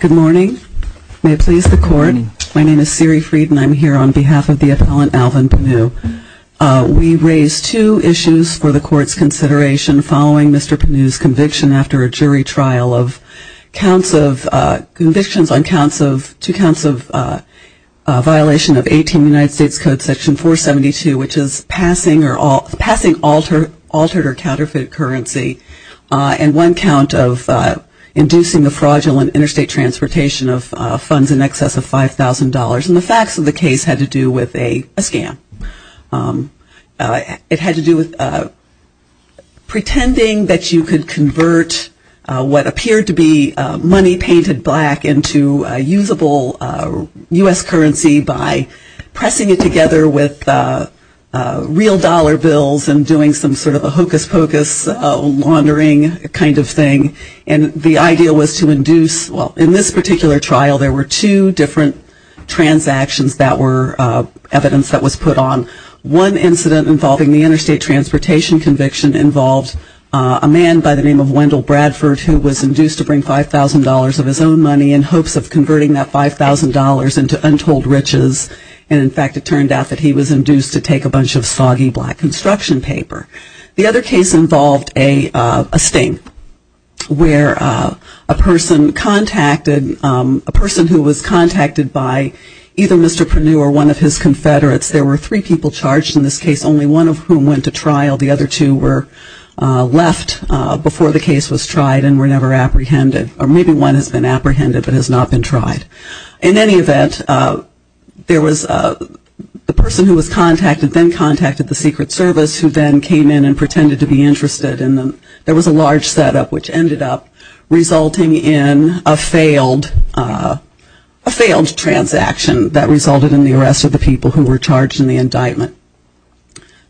Good morning. May it please the court, my name is Siri Fried and I'm here on behalf of the appellant Alvin Pennue. We raise two issues for the court's consideration following Mr. Pennue's conviction after a jury trial of convictions on two counts of violation of 18 United States Code section 472 which is passing altered or counterfeited currency and one count of inducing the fraudulent interstate transportation of funds in excess of $5,000. And the facts of the case had to do with a scam. It had to do with pretending that you could convert what appeared to be money painted black into usable U.S. currency by pressing it together with real dollar bills and doing some sort of a hocus pocus laundering kind of thing. And the idea was to induce, well in this particular trial there were two different transactions that were evidence that was put on. One incident involving the interstate transportation conviction involved a man by the name of Wendell Bradford who was induced to bring $5,000 of his own money in hopes of converting that $5,000 into untold riches and in fact it turned out that he was induced to take a bunch of soggy black construction paper. The other case involved a stink where a person contacted, a person who was contacted by either Mr. Pennue or one of his confederates, there were three people charged in this case, only one of whom went to trial. The other two were left before the case was tried and were never apprehended or maybe one has been apprehended but has not been tried. In any event, there was a person who was contacted then contacted the Secret Service who then came in and pretended to be interested in them. There was a large setup which ended up resulting in a failed, a failed transaction that resulted in the arrest of the people who were charged in the indictment.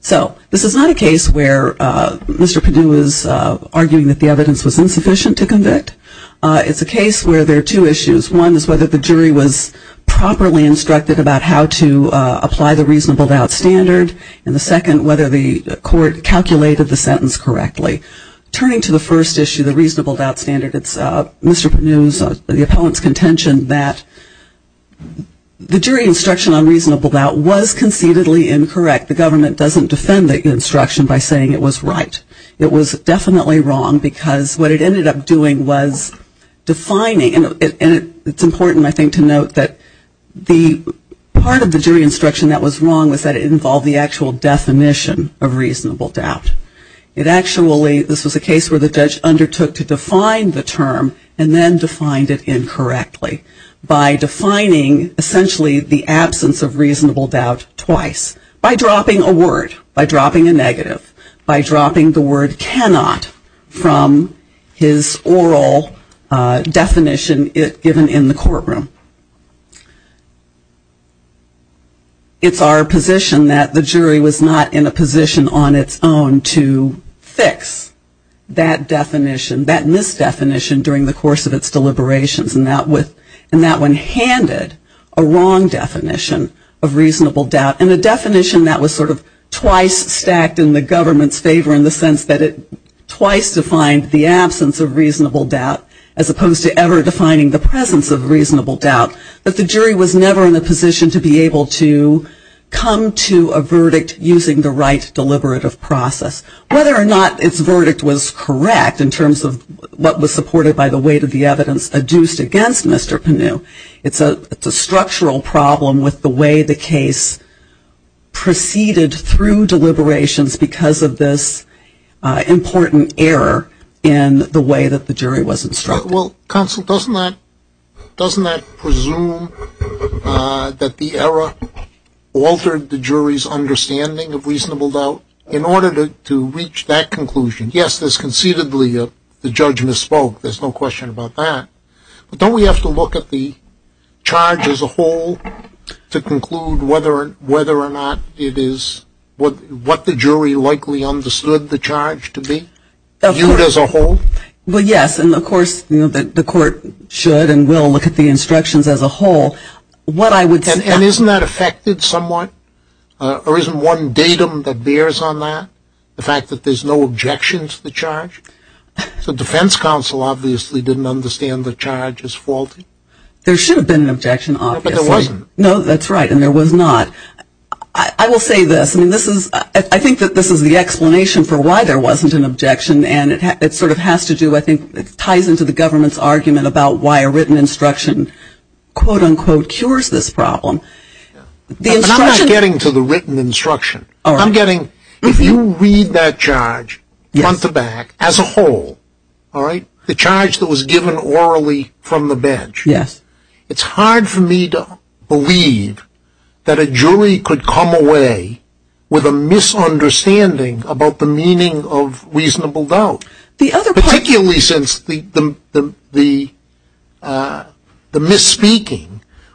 So this is not a case where Mr. Pennue is arguing that the evidence was insufficient to convict. It's a case where there are two issues. One is whether the jury was properly instructed about how to apply the reasonable doubt standard and the second whether the court calculated the sentence correctly. Turning to the first issue, the reasonable doubt standard, it's Mr. Pennue's, the appellant's contention that the jury instruction on reasonable doubt was conceitedly incorrect. The government doesn't defend the instruction by saying it was right. It was definitely wrong because what it ended up doing was defining, and it's important I think to note that the part of the jury instruction that was wrong was that it involved the actual definition of reasonable doubt. It actually, this was a case where the judge undertook to define the term and then defined it incorrectly by defining essentially the absence of reasonable doubt twice. By dropping a word, by dropping a negative, by dropping the word cannot from his oral definition given in the courtroom. It's our position that the jury was not in a position on its own to fix that definition, that misdefinition during the course of its deliberations and that one handed a wrong definition of reasonable doubt and a definition that was sort of twice stacked in the government's favor in the sense that it twice defined the absence of reasonable doubt as opposed to ever defining the presence of reasonable doubt. But the jury was never in a position to be able to come to a verdict using the right deliberative process. Whether or not its verdict was correct in terms of what was supported by the weight of the evidence adduced against Mr. Panu, it's a structural problem with the way the case proceeded through deliberations because of this important error in the way that the jury was instructed. Well, counsel, doesn't that presume that the error altered the jury's understanding of that conclusion? Yes, there's concededly the judge misspoke. There's no question about that. But don't we have to look at the charge as a whole to conclude whether or not it is what the jury likely understood the charge to be viewed as a whole? Well, yes. And of course, the court should and will look at the instructions as a whole. What I would say... And isn't that affected somewhat? Or isn't one datum that bears on that? The fact that there's no objection to the charge? The defense counsel obviously didn't understand the charge as faulty. There should have been an objection, obviously. No, but there wasn't. No, that's right. And there was not. I will say this. I think that this is the explanation for why there wasn't an objection. And it sort of has to do, I think, it ties into the government's argument about why a written instruction, quote, unquote, cures this problem. But I'm not getting to the written instruction. If you read that charge front to back as a whole, the charge that was given orally from the bench, it's hard for me to believe that a jury could come away with a misunderstanding about the meaning of reasonable doubt, particularly since the misspeaking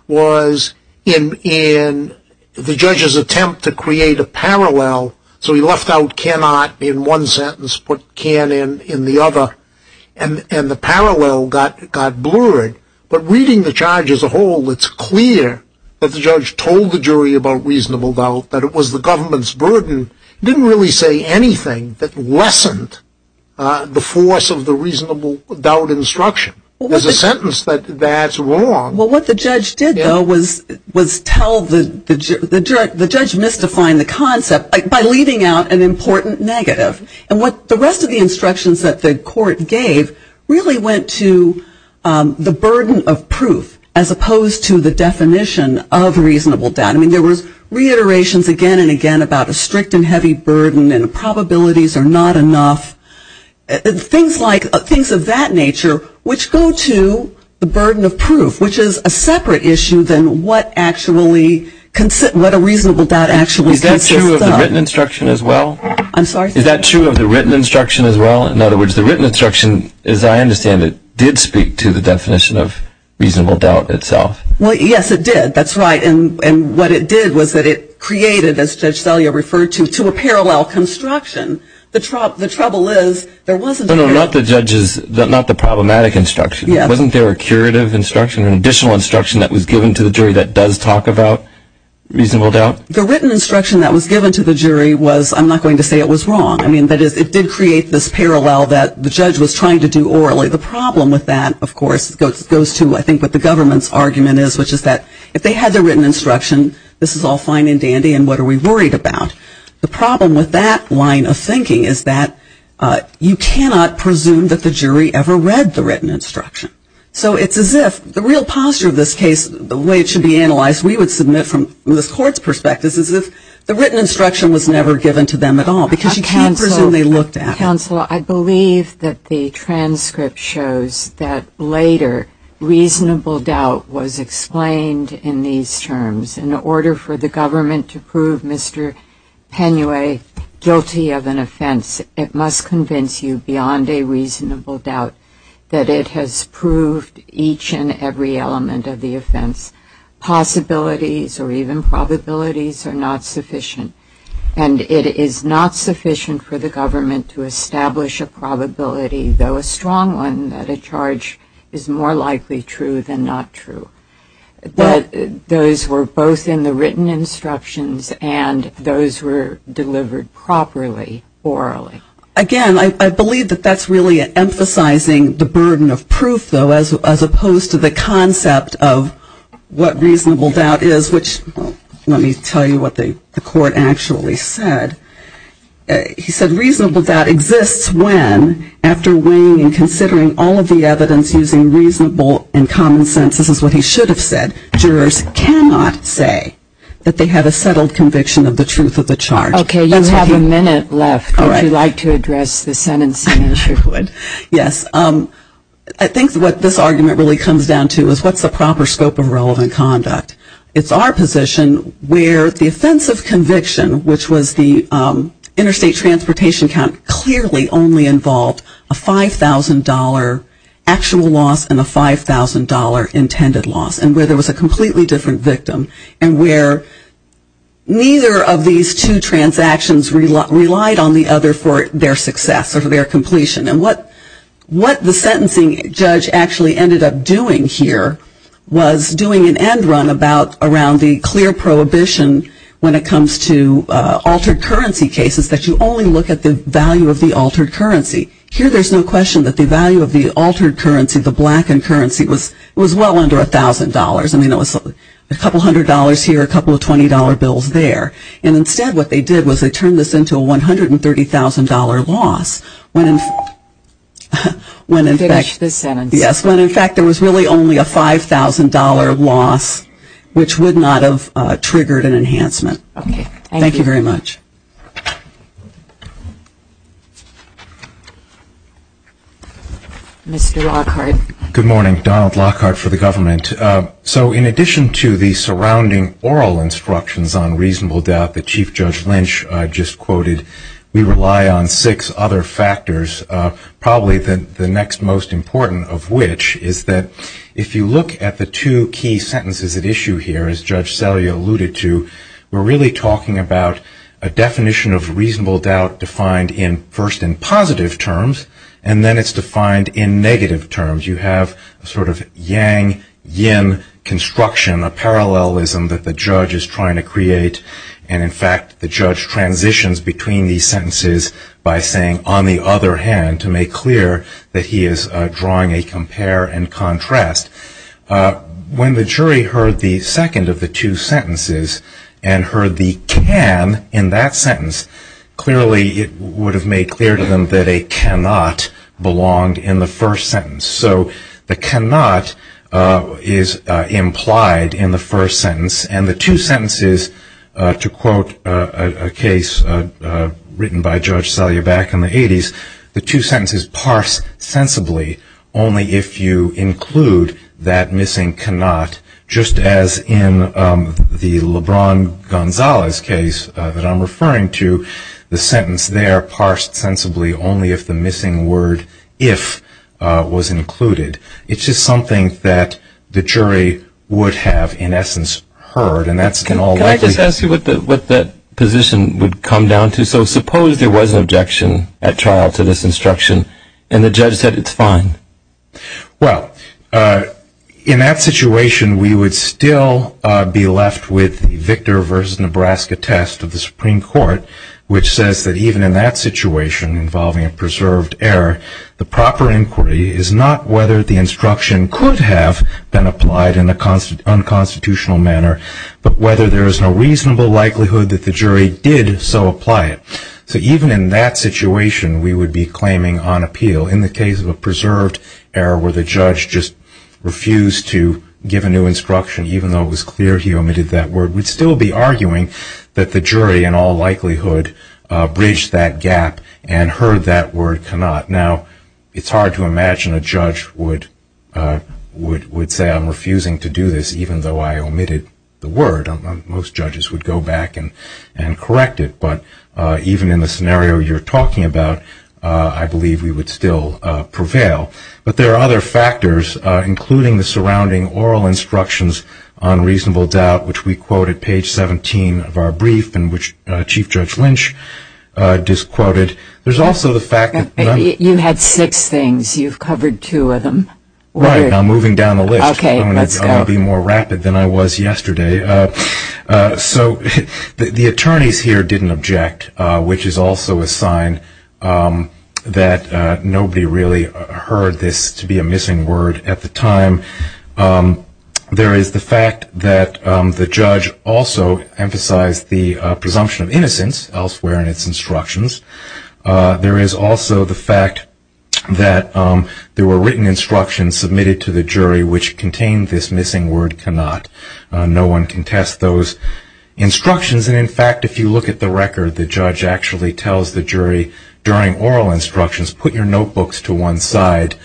was in the judge's attempt to create a parallel. So he left out cannot in one sentence, put can in the other. And the parallel got blurred. But reading the charge as a whole, it's clear that the judge told the jury about reasonable doubt, that it was the government's burden. It didn't really say anything that lessened the force of the reasonable doubt instruction. There's a sentence that that's wrong. Well, what the judge did, though, was tell the judge, the judge misdefined the concept by leaving out an important negative. And what the rest of the instructions that the court gave really went to the burden of proof as opposed to the definition of reasonable doubt. I mean, there was reiterations again and again about a strict and heavy burden and probabilities are not enough. Things like, things of that nature, which go to the burden of proof, which is a separate issue than what actually, what a reasonable doubt actually consists of. Is that true of the written instruction as well? I'm sorry? Is that true of the written instruction as well? In other words, the written instruction, as I understand it, did speak to the definition of reasonable doubt itself. Well, yes, it did. That's right. And what it did was that it created, as Judge Zellier referred to, to a parallel construction. The trouble is, there wasn't a... No, no, not the judge's, not the problematic instruction. Yes. Wasn't there a curative instruction, an additional instruction that was given to the jury that does talk about reasonable doubt? The written instruction that was given to the jury was, I'm not going to say it was wrong. I mean, that is, it did create this parallel that the judge was trying to do orally. The problem with that, of course, goes to, I think, what the government's argument is, which is that if they had the written instruction, this is all fine and dandy, and what are we worried about? The problem with that line of thinking is that you cannot presume that the jury ever read the written instruction. So it's as if the real posture of this case, the way it should be analyzed, we would submit from this Court's perspective, is as if the written instruction was never given to them at all, because you can't presume they looked at it. Counsel, I believe that the transcript shows that later, reasonable doubt was explained in these terms. In order for the government to prove Mr. Penue guilty of an offense, it must convince you beyond a reasonable doubt that it has proved each and every element of the offense. Possibilities or even probabilities are not sufficient, and it is not sufficient for the government to establish a probability, though a strong one, that a charge is more likely true than not true. That those were both in the written instructions and those were delivered properly orally. Again, I believe that that's really emphasizing the burden of proof, though, as opposed to the concept of what reasonable doubt is, which, let me tell you what the Court actually said. He said reasonable doubt exists when, after weighing and considering all of the evidence using reasonable and common sense, this is what he should have said, jurors cannot say that they have a settled conviction of the truth of the charge. Okay, you have a minute left, if you'd like to address the sentencing issue. Yes. I think what this argument really comes down to is what's the proper scope of relevant clearly only involved a $5,000 actual loss and a $5,000 intended loss, and where there was a completely different victim, and where neither of these two transactions relied on the other for their success or for their completion, and what the sentencing judge actually ended up doing here was doing an end run around the clear prohibition when it comes to altered currency cases that you only look at the value of the altered currency. Here there's no question that the value of the altered currency, the blackened currency, was well under $1,000. I mean, it was a couple hundred dollars here, a couple of $20 bills there, and instead what they did was they turned this into a $130,000 loss when in fact there was really only a $5,000 loss, which would not have triggered an enhancement. Mr. Lockhart. Good morning. Donald Lockhart for the government. So in addition to the surrounding oral instructions on reasonable doubt that Chief Judge Lynch just quoted, we rely on six other factors, probably the next most important of which is that if you look at the two key sentences at issue here, as Judge Selley alluded to, we're really talking about a definition of reasonable doubt defined first in positive terms, and then it's defined in negative terms. You have a sort of yang-yin construction, a parallelism that the judge is trying to create, and in fact the judge transitions between these sentences by saying, on the other hand, to make clear that he is drawing a compare and contrast. When the jury heard the second of the two sentences and heard the can in that sentence, clearly it would have made clear to them that a cannot belonged in the first sentence. So the cannot is implied in the first sentence, and the two sentences, to quote a case written by Judge Selley back in the 80s, the two sentences parse sensibly only if you include that missing cannot, just as in the LeBron Gonzalez case that I'm referring to, the sentence there parsed sensibly only if the missing word if was included. It's just something that the jury would have, in essence, heard, and that's an all- Can I just ask you what that position would come down to? So suppose there was an objection at trial to this instruction, and the judge said it's fine. Well, in that situation we would still be left with the Victor v. Nebraska test of the Supreme Court, which says that even in that situation involving a preserved error, the proper inquiry is not whether the instruction could have been applied in an unconstitutional manner, but whether there is no reasonable likelihood that the jury did so apply it. So even in that situation we would be claiming on appeal. In the case of a preserved error where the judge just refused to give a new instruction, even though it was clear he omitted that word, we'd still be arguing that the jury in all likelihood bridged that gap and heard that word cannot. Now, it's hard to imagine a judge would say I'm refusing to give a new instruction, even though I omitted the word. Most judges would go back and correct it, but even in the scenario you're talking about, I believe we would still prevail. But there are other factors, including the surrounding oral instructions on reasonable doubt, which we quote at page 17 of our brief, and which Chief Judge Lynch disquoted. There's also the fact that- You had six things. You've covered two of them. Okay, let's go. It's going to be more rapid than I was yesterday. So the attorneys here didn't object, which is also a sign that nobody really heard this to be a missing word at the time. There is the fact that the judge also emphasized the presumption of innocence elsewhere in its instructions. There is also the fact that there were written instructions submitted to the jury which contained this missing word cannot. No one can test those instructions. In fact, if you look at the record, the judge actually tells the jury during oral instructions, put your notebooks to one side.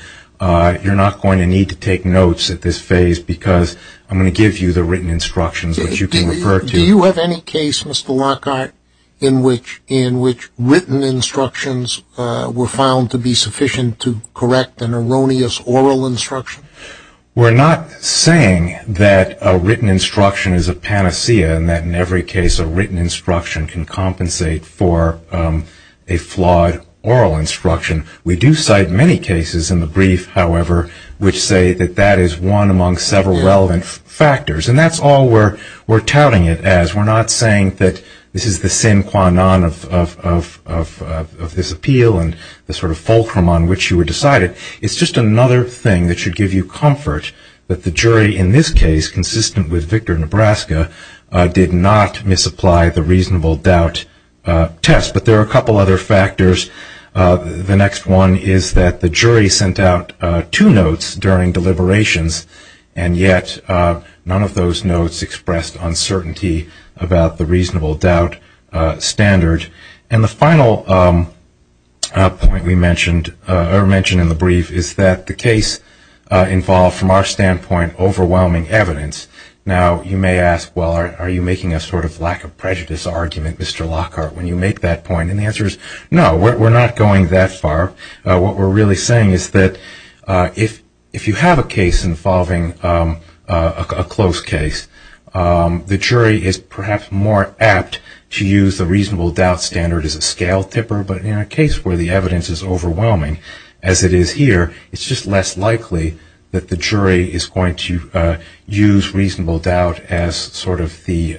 You're not going to need to take notes at this phase because I'm going to give you the written instructions which you can refer to. Do you have any case, Mr. Lockhart, in which written instructions were found to be sufficient to correct an erroneous oral instruction? We're not saying that a written instruction is a panacea and that in every case a written instruction can compensate for a flawed oral instruction. We do cite many cases in the brief, however, which say that that is one among several relevant factors. And that's all we're touting it as. We're not saying that this is the sine qua non of this appeal and the sort of fulcrum on which you were decided. It's just another thing that should give you comfort that the jury in this case, consistent with Victor, Nebraska, did not misapply the reasonable doubt test. But there are a couple other factors. The next one is that the jury sent out two notes during deliberations and yet none of those notes expressed uncertainty about the reasonable doubt standard. And the final point we mentioned in the brief is that the case involved, from our standpoint, overwhelming evidence. Now, you may ask, well, are you making a sort of lack of prejudice argument, Mr. Lockhart, when you make that point? And the answer is no, we're not going that far. What we're really saying is that if you have a case involving a close case, the jury is perhaps more apt to use the reasonable doubt standard as a scale tipper. But in a case where the evidence is overwhelming, as it is here, it's just less likely that the jury is going to use reasonable doubt as sort of the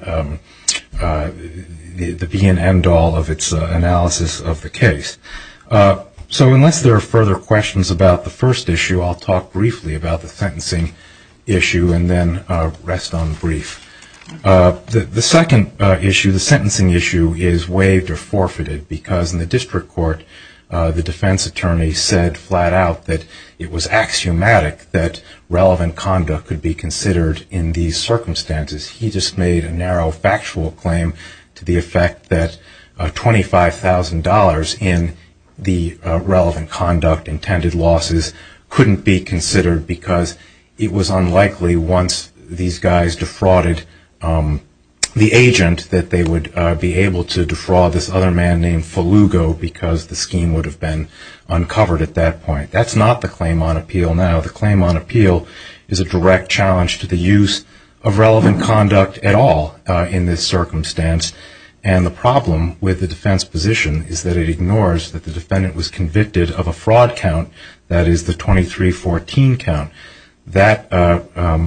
be and end all of its analysis of the case. So unless there are further questions about the first issue, I'll talk briefly about the issue and then rest on the brief. The second issue, the sentencing issue, is waived or forfeited because in the district court, the defense attorney said flat out that it was axiomatic that relevant conduct could be considered in these circumstances. He just made a narrow factual claim to the effect that $25,000 in the relevant conduct intended losses couldn't be considered because it was unlikely once these guys defrauded the agent that they would be able to defraud this other man named Falugo because the scheme would have been uncovered at that point. That's not the claim on appeal now. The claim on appeal is a direct challenge to the use of relevant conduct at all in this circumstance. And the problem with the defense position is that it ignores that the defendant was convicted of a fraud count, that is the 2314 count. That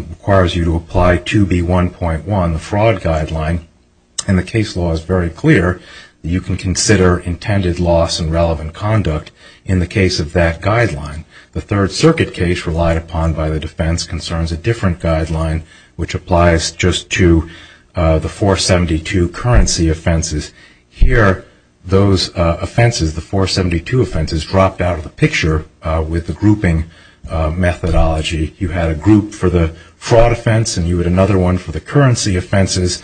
requires you to apply 2B1.1, the fraud guideline, and the case law is very clear that you can consider intended loss in relevant conduct in the case of that guideline. The Third Circuit case relied upon by the defense concerns a different guideline which applies just to the 472 currency offenses. Here, those offenses, the 472 offenses dropped out of the picture with the grouping methodology. You had a group for the fraud offense and you had another one for the currency offenses.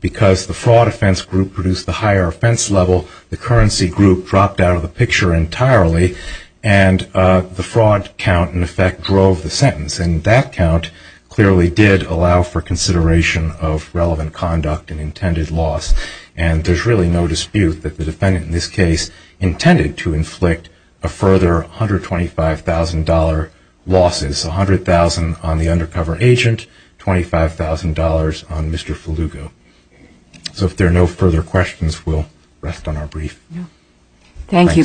Because the fraud offense group produced the higher offense level, the currency group dropped out of the picture entirely and the fraud count, in effect, drove the sentence. And that count clearly did allow for consideration of relevant conduct and intended loss. And there's really no dispute that the defendant in this case intended to inflict a further $125,000 losses, $100,000 on the undercover agent, $25,000 on Mr. Falugo. So if there are no further questions, we'll rest on our brief. Thank you both.